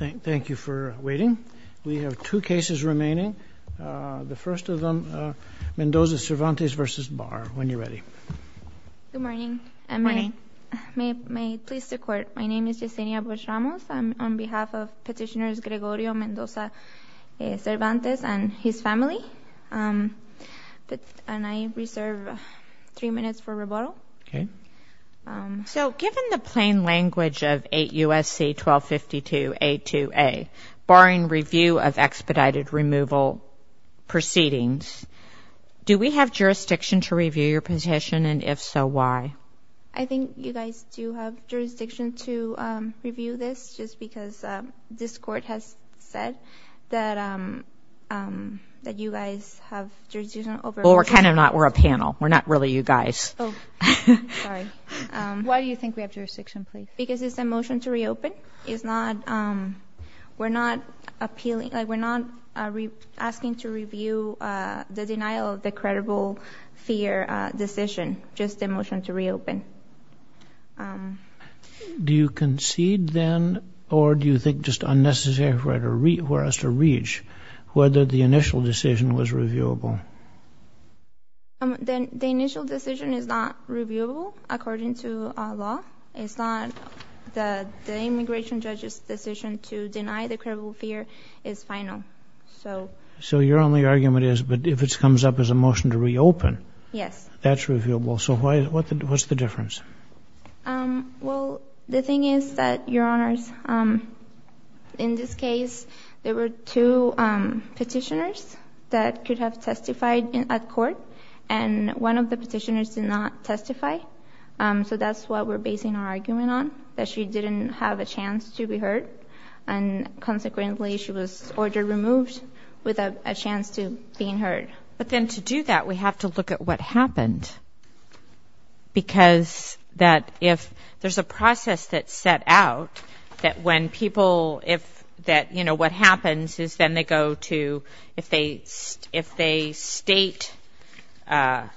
Thank you for waiting. We have two cases remaining. The first of them, Mendoza Cervantes v. Barr. When you're ready. Good morning. May it please the court, my name is Yesenia Boshamos. I'm on behalf of petitioners Gregorio Mendoza Cervantes and his family. And I reserve three minutes for rebuttal. So given the plain language of 8 U.S.C. 1252 A.2.A. barring review of expedited removal proceedings, do we have jurisdiction to review your petition and if so, why? I think you guys do have jurisdiction to review this just because this court has said that you guys have jurisdiction over Well we're kind of not, we're a panel. We're not really you guys. Oh, sorry. Why do you think we have jurisdiction please? Because it's a motion to reopen. It's not, we're not appealing, we're not asking to review the denial of the credible fear decision, just a motion to reopen. Do you concede then or do you think just unnecessary for us to reach whether the initial decision was reviewable? The initial decision is not reviewable according to law. It's not the immigration judge's decision to deny the credible fear is final. So your only argument is, but if it comes up as a motion to reopen, that's reviewable. So what's the difference? Well, the thing is that, your honors, in this case there were two petitioners that could have testified at court and one of the petitioners did not testify. So that's what we're basing our argument on, that she didn't have a chance to be heard and consequently she was order removed with a chance to being heard. But then to do that, we have to look at what happened. Because that if there's a process that's set out that when people, if that, you know, what happens is then they go to, if they state that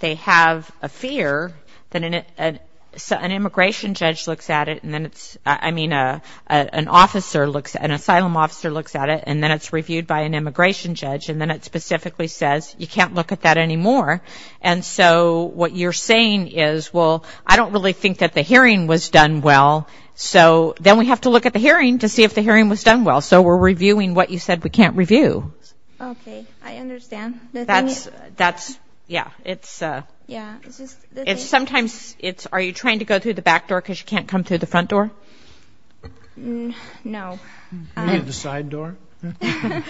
they have a fear, then an immigration judge looks at it and then it's, I mean, an officer looks, an asylum officer looks at it and then it's reviewed by an immigration judge and then it specifically says you can't look at that anymore. And so what you're saying is, well, I don't really think that the hearing was done well, so then we have to look at the hearing to see if the hearing was done well. So we're reviewing what you said we can't review. Okay, I understand. That's, that's, yeah, it's, it's sometimes it's, are you trying to go through the back door because you can't come through the front door? No. Maybe the side door? No.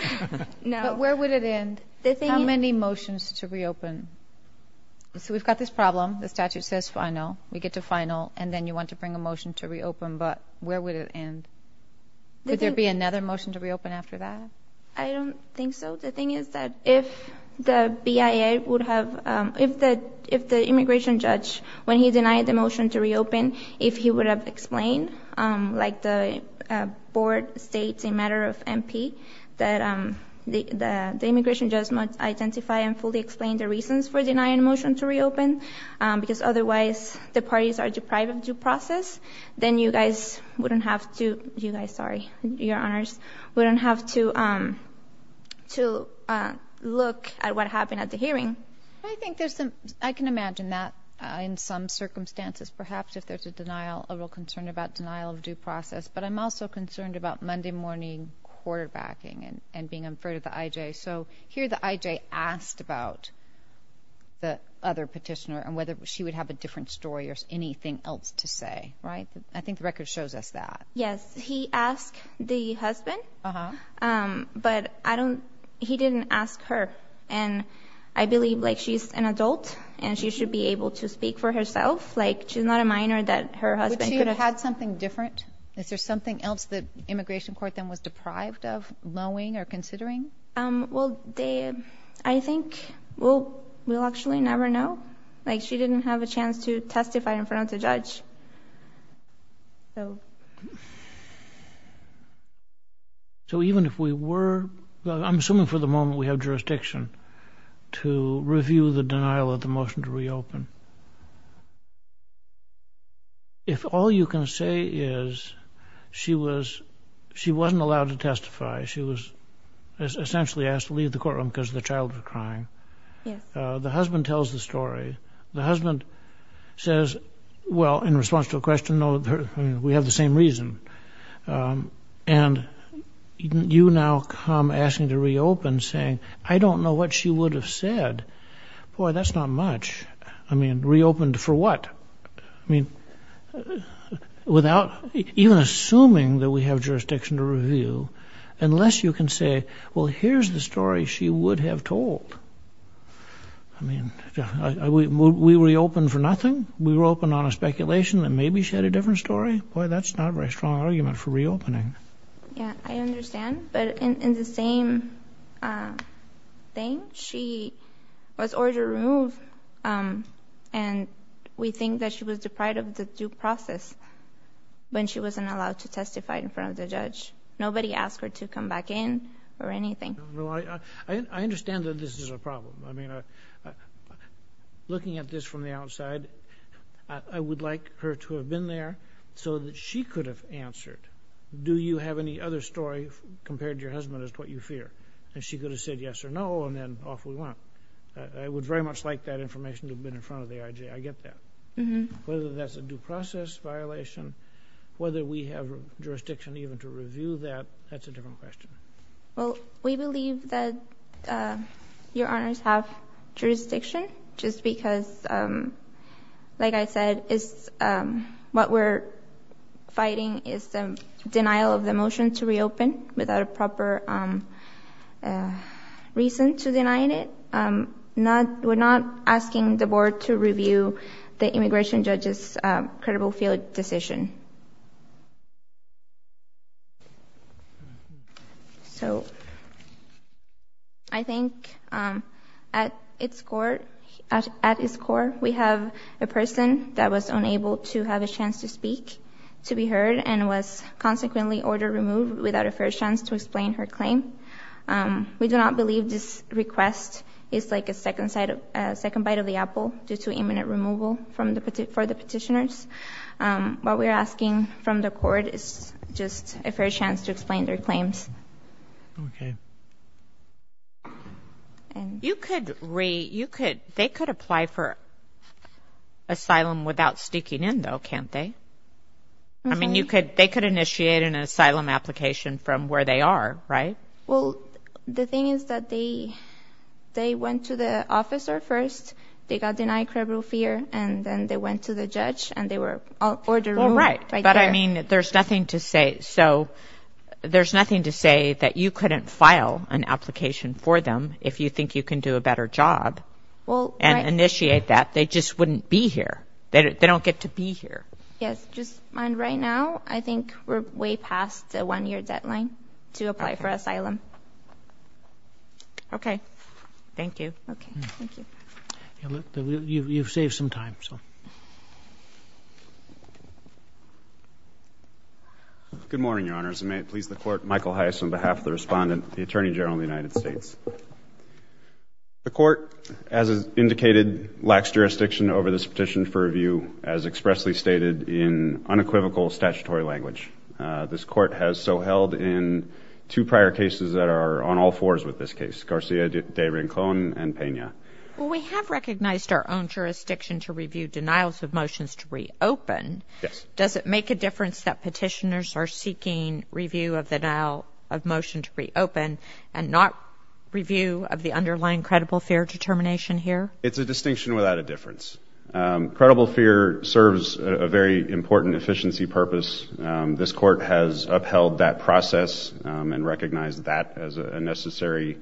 But where would it end? How many motions to reopen? So we've got this problem, the statute says final, we get to final, and then you want to bring a motion to reopen, but where would it end? Would there be another motion to reopen after that? I don't think so. The thing is that if the BIA would have, if the, if the immigration judge, when he denied the motion to reopen, if he would have explained, like the board states in matter of MP, that the immigration judge must identify and fully explain the reasons for denying a motion to reopen, because otherwise the parties are deprived of due process, then you guys wouldn't have to, you guys, sorry, your honors, wouldn't have to, to look at what happened at the hearing. I think there's some, I can imagine that in some circumstances, perhaps if there's a denial, a real concern about denial of due process. But I'm also concerned about Monday morning quarterbacking and being afraid of the IJ. So here the IJ asked about the other petitioner and whether she would have a different story or anything else to say. Right. I think the record shows us that. Yes. He asked the husband, but I don't, he didn't ask her. And I believe like she's an adult and she should be able to speak for herself. Like she's not a minor that her husband could have had something different. Is there something else that immigration court then was deprived of mowing or considering? Well, they, I think, well, we'll actually never know. Like she didn't have a chance to testify in front of the judge. So. So even if we were, I'm assuming for the moment we have jurisdiction to review the denial of the motion to reopen. If all you can say is she was she wasn't allowed to testify, she was essentially asked to leave the courtroom because the child was crying. The husband tells the story. The husband says, well, in response to a question, no, we have the same reason. And you now come asking to reopen saying, I don't know what she would have said. Boy, that's not much. I mean, reopened for what? I mean, without even assuming that we have jurisdiction to review, unless you can say, well, here's the story she would have told. I mean, we reopened for nothing. We were open on a speculation that maybe she had a different story. Boy, that's not a very strong argument for reopening. Yeah, I understand. But in the same thing, she was ordered removed. And we think that she was deprived of the due process when she wasn't allowed to testify in front of the judge. Nobody asked her to come back in or anything. I understand that this is a problem. I mean, looking at this from the outside, I would like her to have been there so that she could have answered. Do you have any other story compared to your husband as to what you fear? And she could have said yes or no, and then off we went. I would very much like that information to have been in front of the IJ. I get that. Whether that's a due process violation, whether we have jurisdiction even to review that, that's a different question. Well, we believe that Your Honors have jurisdiction just because, like I said, what we're fighting is the denial of the motion to reopen without a proper reason to deny it. We're not asking the board to review the immigration judge's credible field decision. I think at its core, we have a person that was unable to have a chance to speak, to be heard, and was consequently ordered removed without a fair chance to explain her claim. We do not believe this request is like a second bite of the apple due to imminent removal for the petitioners. What we're asking from the court is just a fair chance to explain their claims. Okay. They could apply for asylum without sneaking in, though, can't they? I mean, they could initiate an asylum application from where they are, right? Well, the thing is that they went to the officer first. They got denied credible fear, and then they went to the judge, and they were ordered removed right there. Well, right, but I mean, there's nothing to say. So there's nothing to say that you couldn't file an application for them if you think you can do a better job and initiate that. They just wouldn't be here. They don't get to be here. Yes. Just mind right now, I think we're way past the one-year deadline to apply for asylum. Okay. Thank you. Okay. Thank you. You've saved some time. Good morning, Your Honors. May it please the Court, Michael Heiss on behalf of the Respondent, the Attorney General of the United States. The Court, as indicated, lacks jurisdiction over this petition for review, as expressly stated in unequivocal statutory language. This Court has so held in two prior cases that are on all fours with this case, Garcia de Rincon and Pena. Well, we have recognized our own jurisdiction to review denials of motions to reopen. Yes. Does it make a difference that petitioners are seeking review of the denial of motion to reopen and not review of the underlying credible fear determination here? It's a distinction without a difference. Credible fear serves a very important efficiency purpose. This Court has upheld that process and recognized that as a necessary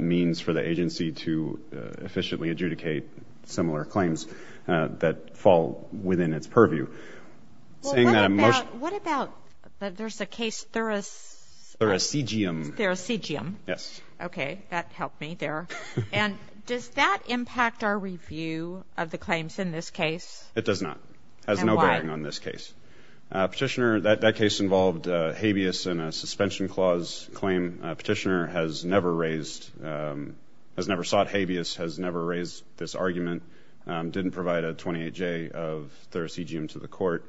means for the agency to efficiently adjudicate similar claims that fall within its purview. Well, what about there's a case, Thuracegium. Thuracegium. Yes. Okay. That helped me there. And does that impact our review of the claims in this case? It does not. And why? It has no bearing on this case. Petitioner, that case involved habeas in a suspension clause claim. Petitioner has never raised, has never sought habeas, has never raised this argument, didn't provide a 28-J of Thuracegium to the Court.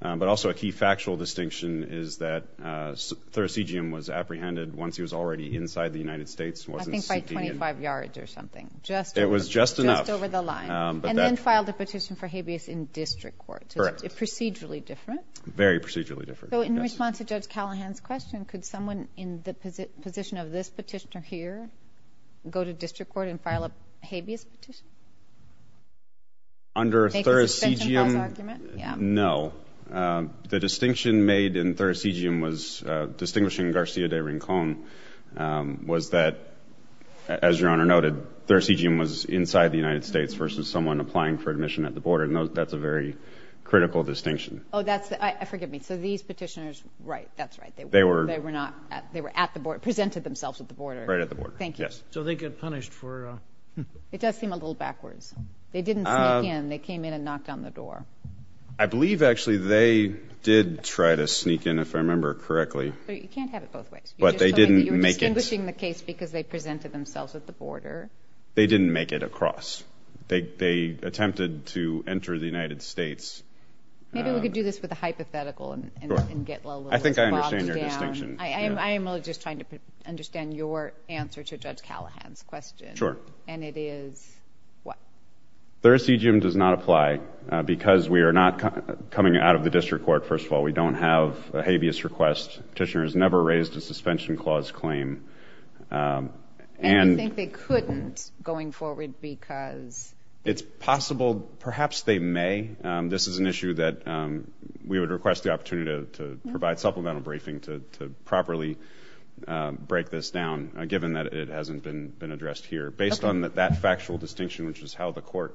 But also a key factual distinction is that Thuracegium was apprehended once he was already inside the United States. I think by 25 yards or something. It was just enough. Just over the line. And then filed a petition for habeas in district court. Correct. Procedurally different. Very procedurally different. So in response to Judge Callahan's question, could someone in the position of this petitioner here go to district court and file a habeas petition? Under Thuracegium, no. The distinction made in Thuracegium was distinguishing Garcia de Rincon was that, as Your Honor noted, Thuracegium was inside the United States versus someone applying for admission at the border. And that's a very critical distinction. Oh, that's the – forgive me. So these petitioners – right. That's right. They were not – they were at the border, presented themselves at the border. Right at the border. Thank you. Yes. So they get punished for – It does seem a little backwards. They didn't sneak in. They came in and knocked on the door. I believe, actually, they did try to sneak in, if I remember correctly. But you can't have it both ways. You're just saying that you're distinguishing the case because they presented themselves at the border. They didn't make it across. They attempted to enter the United States. Maybe we could do this with a hypothetical and get a little bogged down. I think I understand your distinction. I am really just trying to understand your answer to Judge Callahan's question. Sure. And it is what? Thuracegium does not apply because we are not coming out of the district court, first of all. We don't have a habeas request. Petitioners never raised a suspension clause claim. And you think they couldn't going forward because? It's possible. Perhaps they may. This is an issue that we would request the opportunity to provide supplemental briefing to properly break this down, given that it hasn't been addressed here. Based on that factual distinction, which is how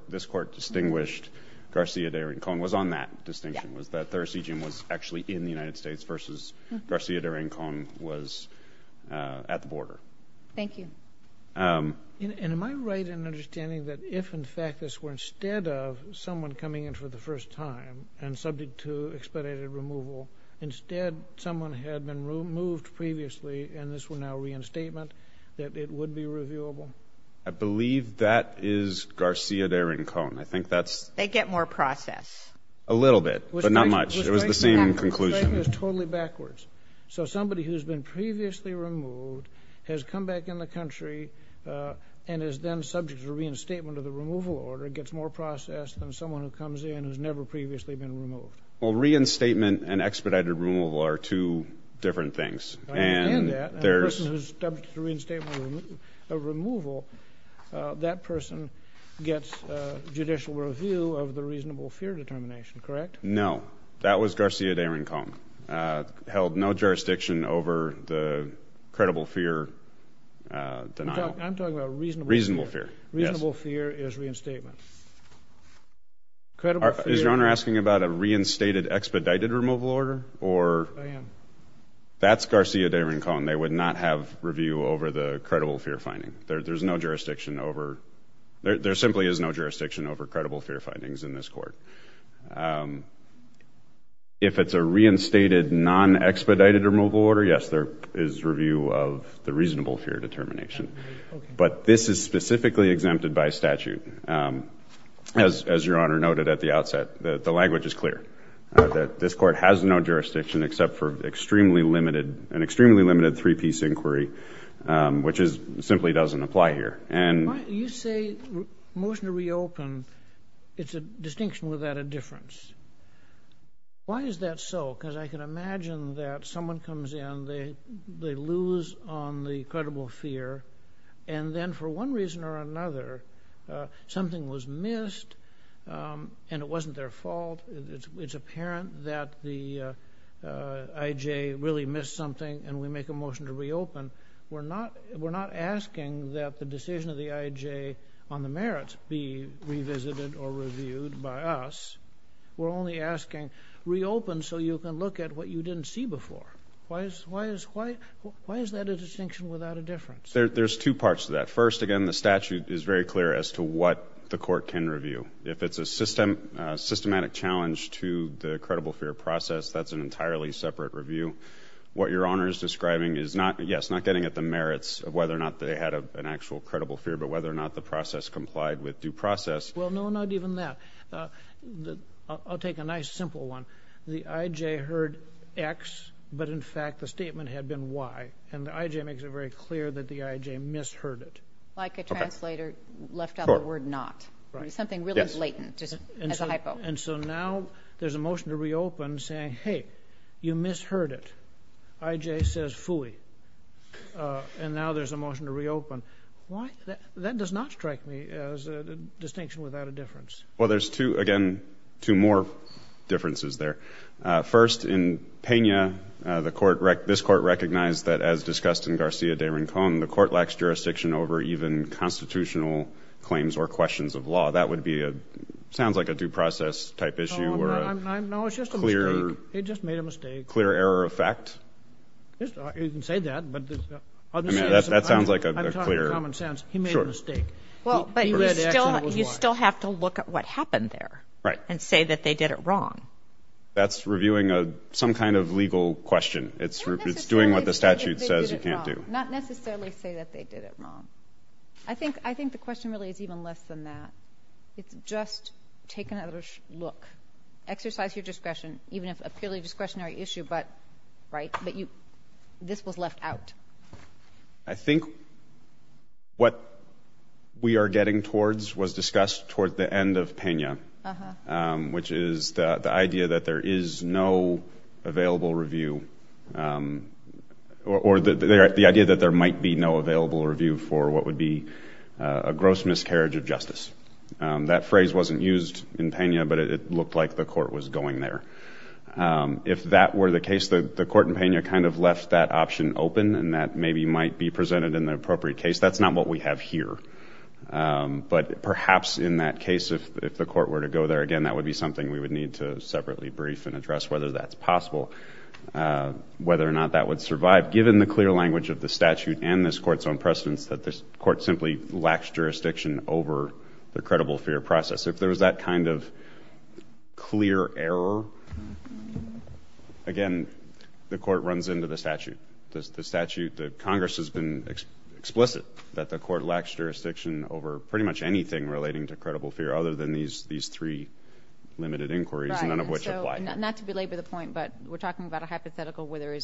this court distinguished Garcia de Rincon, was on that distinction was that thuracegium was actually in the United States versus Garcia de Rincon was at the border. Thank you. And am I right in understanding that if, in fact, this were instead of someone coming in for the first time and subject to expedited removal, instead someone had been removed previously and this were now reinstatement, that it would be reviewable? I believe that is Garcia de Rincon. I think that's. They get more process. A little bit, but not much. It was the same conclusion. It was totally backwards. So somebody who's been previously removed has come back in the country and is then subject to reinstatement of the removal order, gets more process than someone who comes in who's never previously been removed. Well, reinstatement and expedited removal are two different things. And the person who's subject to reinstatement of removal, that person gets judicial review of the reasonable fear determination, correct? No. That was Garcia de Rincon, held no jurisdiction over the credible fear denial. I'm talking about reasonable fear. Reasonable fear, yes. Reasonable fear is reinstatement. Is Your Honor asking about a reinstated expedited removal order? I am. That's Garcia de Rincon. They would not have review over the credible fear finding. There simply is no jurisdiction over credible fear findings in this court. If it's a reinstated non-expedited removal order, yes, there is review of the reasonable fear determination. But this is specifically exempted by statute. As Your Honor noted at the outset, the language is clear. This court has no jurisdiction except for an extremely limited three-piece inquiry, which simply doesn't apply here. You say motion to reopen. It's a distinction without a difference. Why is that so? Because I can imagine that someone comes in, they lose on the credible fear, and then for one reason or another something was missed and it wasn't their fault. It's apparent that the IJ really missed something and we make a motion to reopen. We're not asking that the decision of the IJ on the merits be revisited or reviewed by us. We're only asking reopen so you can look at what you didn't see before. Why is that a distinction without a difference? There's two parts to that. First, again, the statute is very clear as to what the court can review. If it's a systematic challenge to the credible fear process, that's an entirely separate review. What Your Honor is describing is not, yes, not getting at the merits of whether or not they had an actual credible fear, but whether or not the process complied with due process. Well, no, not even that. I'll take a nice simple one. The IJ heard X, but in fact the statement had been Y, and the IJ makes it very clear that the IJ misheard it. Like a translator left out the word not. Something really blatant, just as a hypo. And so now there's a motion to reopen saying, hey, you misheard it. IJ says phooey. And now there's a motion to reopen. Why? That does not strike me as a distinction without a difference. Well, there's two, again, two more differences there. First, in Pena, this court recognized that, as discussed in Garcia de Rincon, the court lacks jurisdiction over even constitutional claims or questions of law. That would be a, sounds like a due process type issue. No, it's just a mistake. He just made a mistake. Clear error of fact? You can say that, but I'm serious. That sounds like a clear. I'm talking common sense. He made a mistake. He read X and it was Y. You still have to look at what happened there. Right. And say that they did it wrong. That's reviewing some kind of legal question. It's doing what the statute says you can't do. Not necessarily say that they did it wrong. I think the question really is even less than that. It's just take another look. Exercise your discretion, even if a purely discretionary issue, but this was left out. I think what we are getting towards was discussed towards the end of Pena, which is the idea that there is no available review, or the idea that there might be no available review for what would be a gross miscarriage of justice. That phrase wasn't used in Pena, but it looked like the court was going there. If that were the case, the court in Pena kind of left that option open, and that maybe might be presented in the appropriate case. That's not what we have here. But perhaps in that case, if the court were to go there, again, that would be something we would need to separately brief and address whether that's possible, whether or not that would survive, given the clear language of the statute and this court's own precedence that this court simply lacks jurisdiction over the credible fear process. If there was that kind of clear error, again, the court runs into the statute. The Congress has been explicit that the court lacks jurisdiction over pretty much anything relating to credible fear, other than these three limited inquiries, none of which apply. Not to belabor the point, but we're talking about a hypothetical where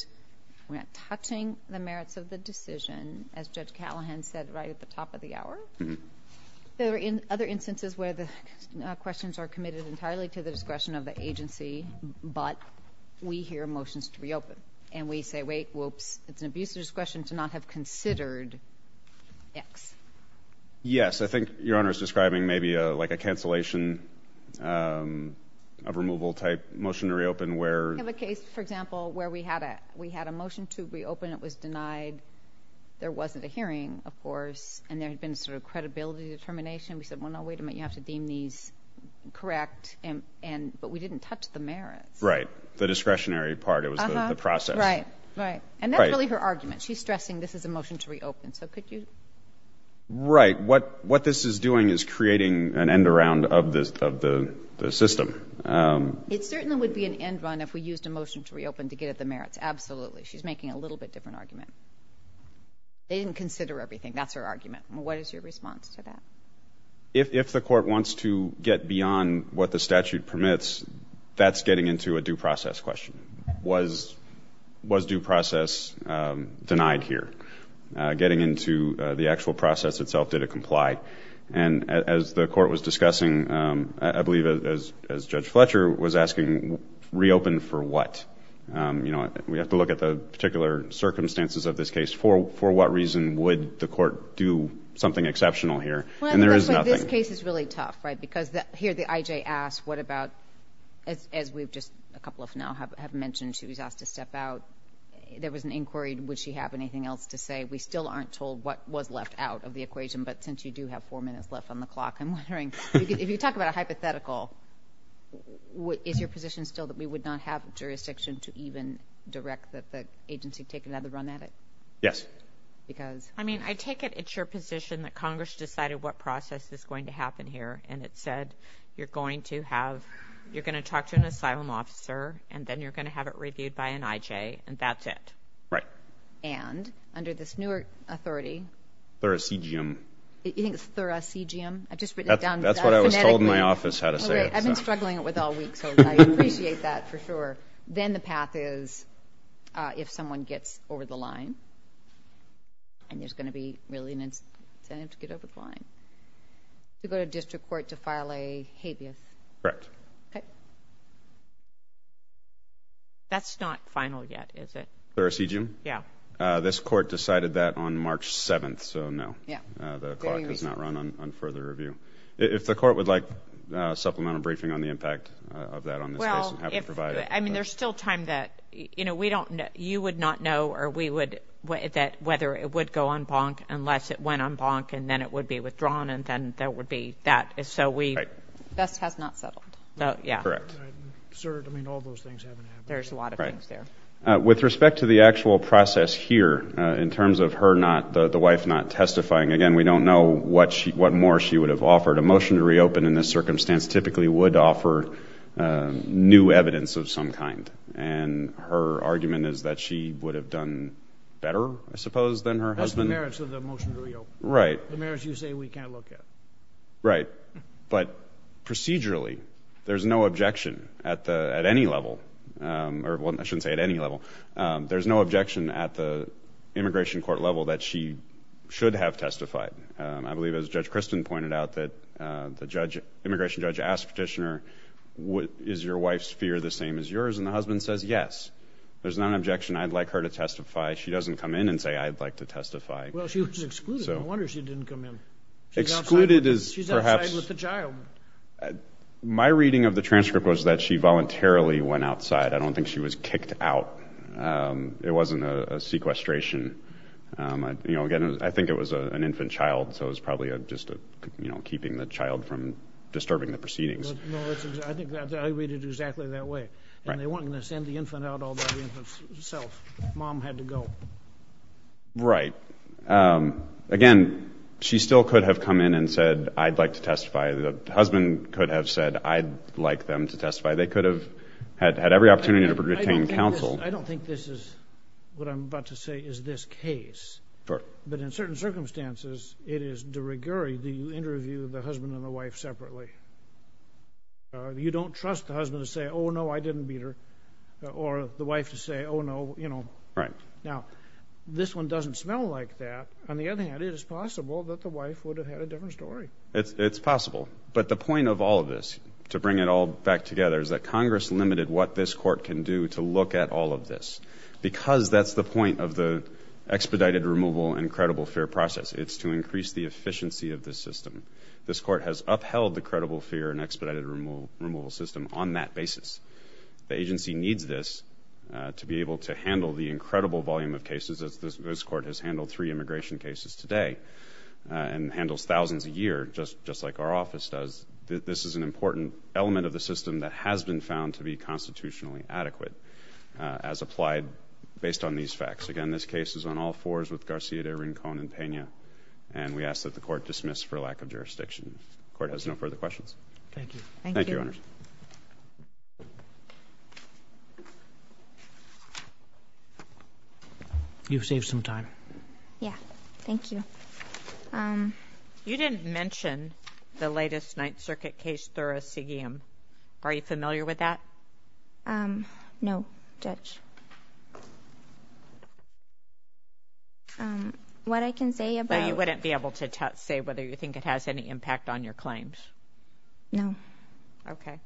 we're not touching the merits of the decision, as Judge Callahan said right at the top of the hour. There are other instances where the questions are committed entirely to the discretion of the agency, but we hear motions to reopen. And we say, wait, whoops, it's an abuser's discretion to not have considered X. Yes, I think Your Honor is describing maybe like a cancellation of removal type motion to reopen. We have a case, for example, where we had a motion to reopen. It was denied. There wasn't a hearing, of course, and there had been sort of credibility determination. We said, well, no, wait a minute, you have to deem these correct. But we didn't touch the merits. Right, the discretionary part. It was the process. Right, right. And that's really her argument. She's stressing this is a motion to reopen. So could you? Right. What this is doing is creating an end around of the system. It certainly would be an end run if we used a motion to reopen to get at the merits. Absolutely. She's making a little bit different argument. They didn't consider everything. That's her argument. What is your response to that? If the court wants to get beyond what the statute permits, that's getting into a due process question. Was due process denied here? Getting into the actual process itself, did it comply? And as the court was discussing, I believe as Judge Fletcher was asking, reopen for what? You know, we have to look at the particular circumstances of this case. For what reason would the court do something exceptional here? And there is nothing. This case is really tough, right? Because here the IJ asked what about, as we've just a couple of now have mentioned, she was asked to step out. There was an inquiry. Would she have anything else to say? We still aren't told what was left out of the equation. But since you do have four minutes left on the clock, I'm wondering. If you talk about a hypothetical, is your position still that we would not have jurisdiction to even direct the agency to take another run at it? Yes. Because? I mean, I take it it's your position that Congress decided what process is going to happen here and it said you're going to have, you're going to talk to an asylum officer and then you're going to have it reviewed by an IJ and that's it. Right. And under this new authority. Thoracegium. You think it's Thoracegium? I've just written it down. That's what I was told in my office how to say it. I've been struggling with it all week, so I appreciate that for sure. Then the path is if someone gets over the line, and there's going to be really an incentive to get over the line, to go to district court to file a habeas. Correct. Okay. That's not final yet, is it? Thoracegium? Yeah. This court decided that on March 7th, so no. Yeah. The clock has not run on further review. If the court would like a supplemental briefing on the impact of that on this case and how to provide it. I mean, there's still time that, you know, we don't know. You would not know that whether it would go en banc unless it went en banc, and then it would be withdrawn, and then there would be that. So we. Best has not settled. Yeah. Correct. Sir, I mean, all those things haven't happened. There's a lot of things there. Right. With respect to the actual process here, in terms of her not, the wife not testifying, again, we don't know what more she would have offered. A motion to reopen in this circumstance typically would offer new evidence of some kind, and her argument is that she would have done better, I suppose, than her husband. That's the merits of the motion to reopen. Right. The merits you say we can't look at. Right. But procedurally, there's no objection at any level, or I shouldn't say at any level, there's no objection at the immigration court level that she should have testified. I believe, as Judge Kristen pointed out, that the immigration judge asked the petitioner, is your wife's fear the same as yours? And the husband says, yes. There's not an objection. I'd like her to testify. She doesn't come in and say, I'd like to testify. Well, she was excluded. No wonder she didn't come in. Excluded is perhaps. She's outside with the child. My reading of the transcript was that she voluntarily went outside. I don't think she was kicked out. It wasn't a sequestration. Again, I think it was an infant child, so it was probably just keeping the child from disturbing the proceedings. No, I think I read it exactly that way. And they weren't going to send the infant out all by the infant's self. Mom had to go. Right. Again, she still could have come in and said, I'd like to testify. The husband could have said, I'd like them to testify. They could have had every opportunity to obtain counsel. I don't think this is what I'm about to say is this case. But in certain circumstances, it is de rigueur that you interview the husband and the wife separately. You don't trust the husband to say, oh, no, I didn't beat her, or the wife to say, oh, no, you know. Now, this one doesn't smell like that. On the other hand, it is possible that the wife would have had a different story. It's possible. But the point of all of this, to bring it all back together, is that Congress limited what this court can do to look at all of this. Because that's the point of the expedited removal and credible fear process. It's to increase the efficiency of the system. This court has upheld the credible fear and expedited removal system on that basis. The agency needs this to be able to handle the incredible volume of cases. This court has handled three immigration cases today and handles thousands a year, just like our office does. This is an important element of the system that has been found to be constitutionally adequate as applied based on these facts. Again, this case is on all fours with Garcia de Rincon and Pena. And we ask that the court dismiss for lack of jurisdiction. The court has no further questions. Thank you. Thank you, Your Honors. You've saved some time. Yeah. Thank you. You didn't mention the latest Ninth Circuit case, Thuracegium. Are you familiar with that? No, Judge. What I can say about – Well, you wouldn't be able to say whether you think it has any impact on your claims. No. Okay.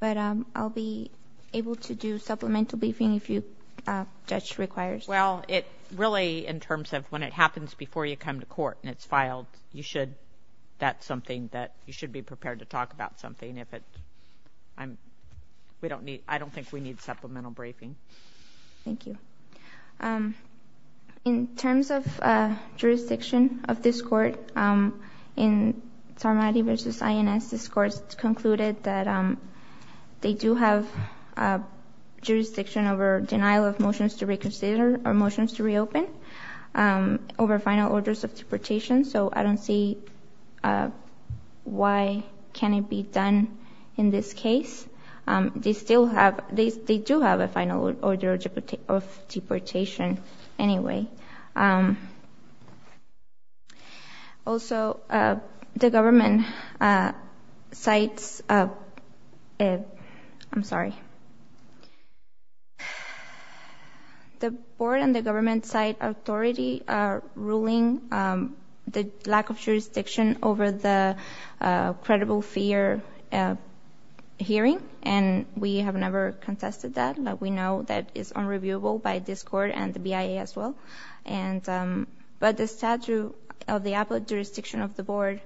But I'll be able to do supplemental briefing if you, Judge, require. Well, it really, in terms of when it happens before you come to court and it's filed, you should – that's something that you should be prepared to talk about something if it – I don't think we need supplemental briefing. Thank you. In terms of jurisdiction of this court, in Tormatti v. INS, this court concluded that they do have jurisdiction over denial of motions to reconsider or motions to reopen over final orders of deportation. So I don't see why can't it be done in this case. They still have – they do have a final order of deportation anyway. Also, the government cites – I'm sorry. The board and the government cite authority ruling the lack of jurisdiction over the credible fear hearing, and we have never contested that. We know that it's unreviewable by this court and the BIA as well. But the statute of the jurisdiction of the board,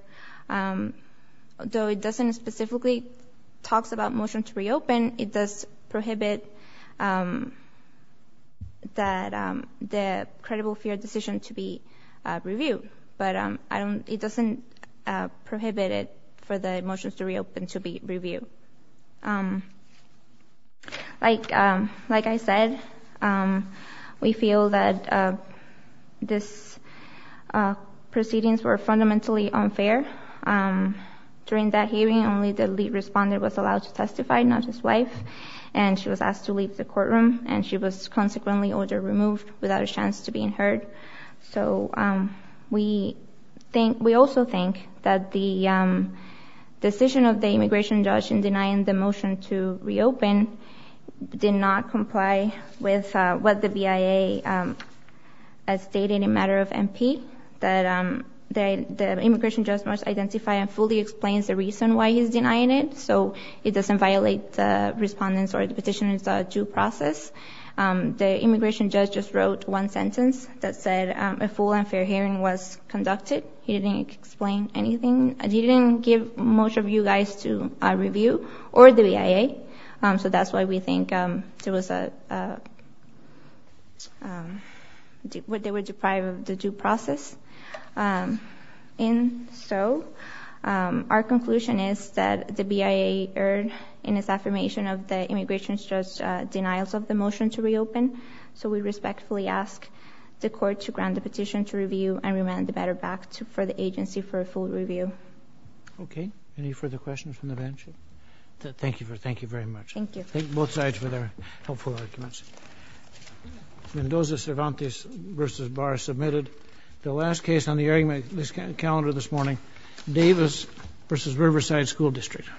though it doesn't specifically talk about motions to reopen, it does prohibit the credible fear decision to be reviewed. But I don't – it doesn't prohibit it for the motions to reopen to be reviewed. Like I said, we feel that these proceedings were fundamentally unfair. During that hearing, only the lead responder was allowed to testify, not his wife, and she was asked to leave the courtroom, and she was consequently order removed without a chance to being heard. So we think – we also think that the decision of the immigration judge in denying the motion to reopen did not comply with what the BIA has stated in matter of MP, that the immigration judge must identify and fully explain the reason why he's denying it so it doesn't violate the respondent's or the petitioner's due process. The immigration judge just wrote one sentence that said a full and fair hearing was conducted. He didn't explain anything. He didn't give much of you guys to review or the BIA. So that's why we think there was a – they were deprived of the due process. And so our conclusion is that the BIA erred in its affirmation of the immigration judge's denials of the motion to reopen, so we respectfully ask the court to grant the petition to review and remand the matter back to – for the agency for a full review. Okay. Any further questions from the bench? Thank you very much. Thank you. Thank both sides for their helpful arguments. Mendoza-Cervantes v. Barr submitted the last case on the argument calendar this morning, Davis v. Riverside School District.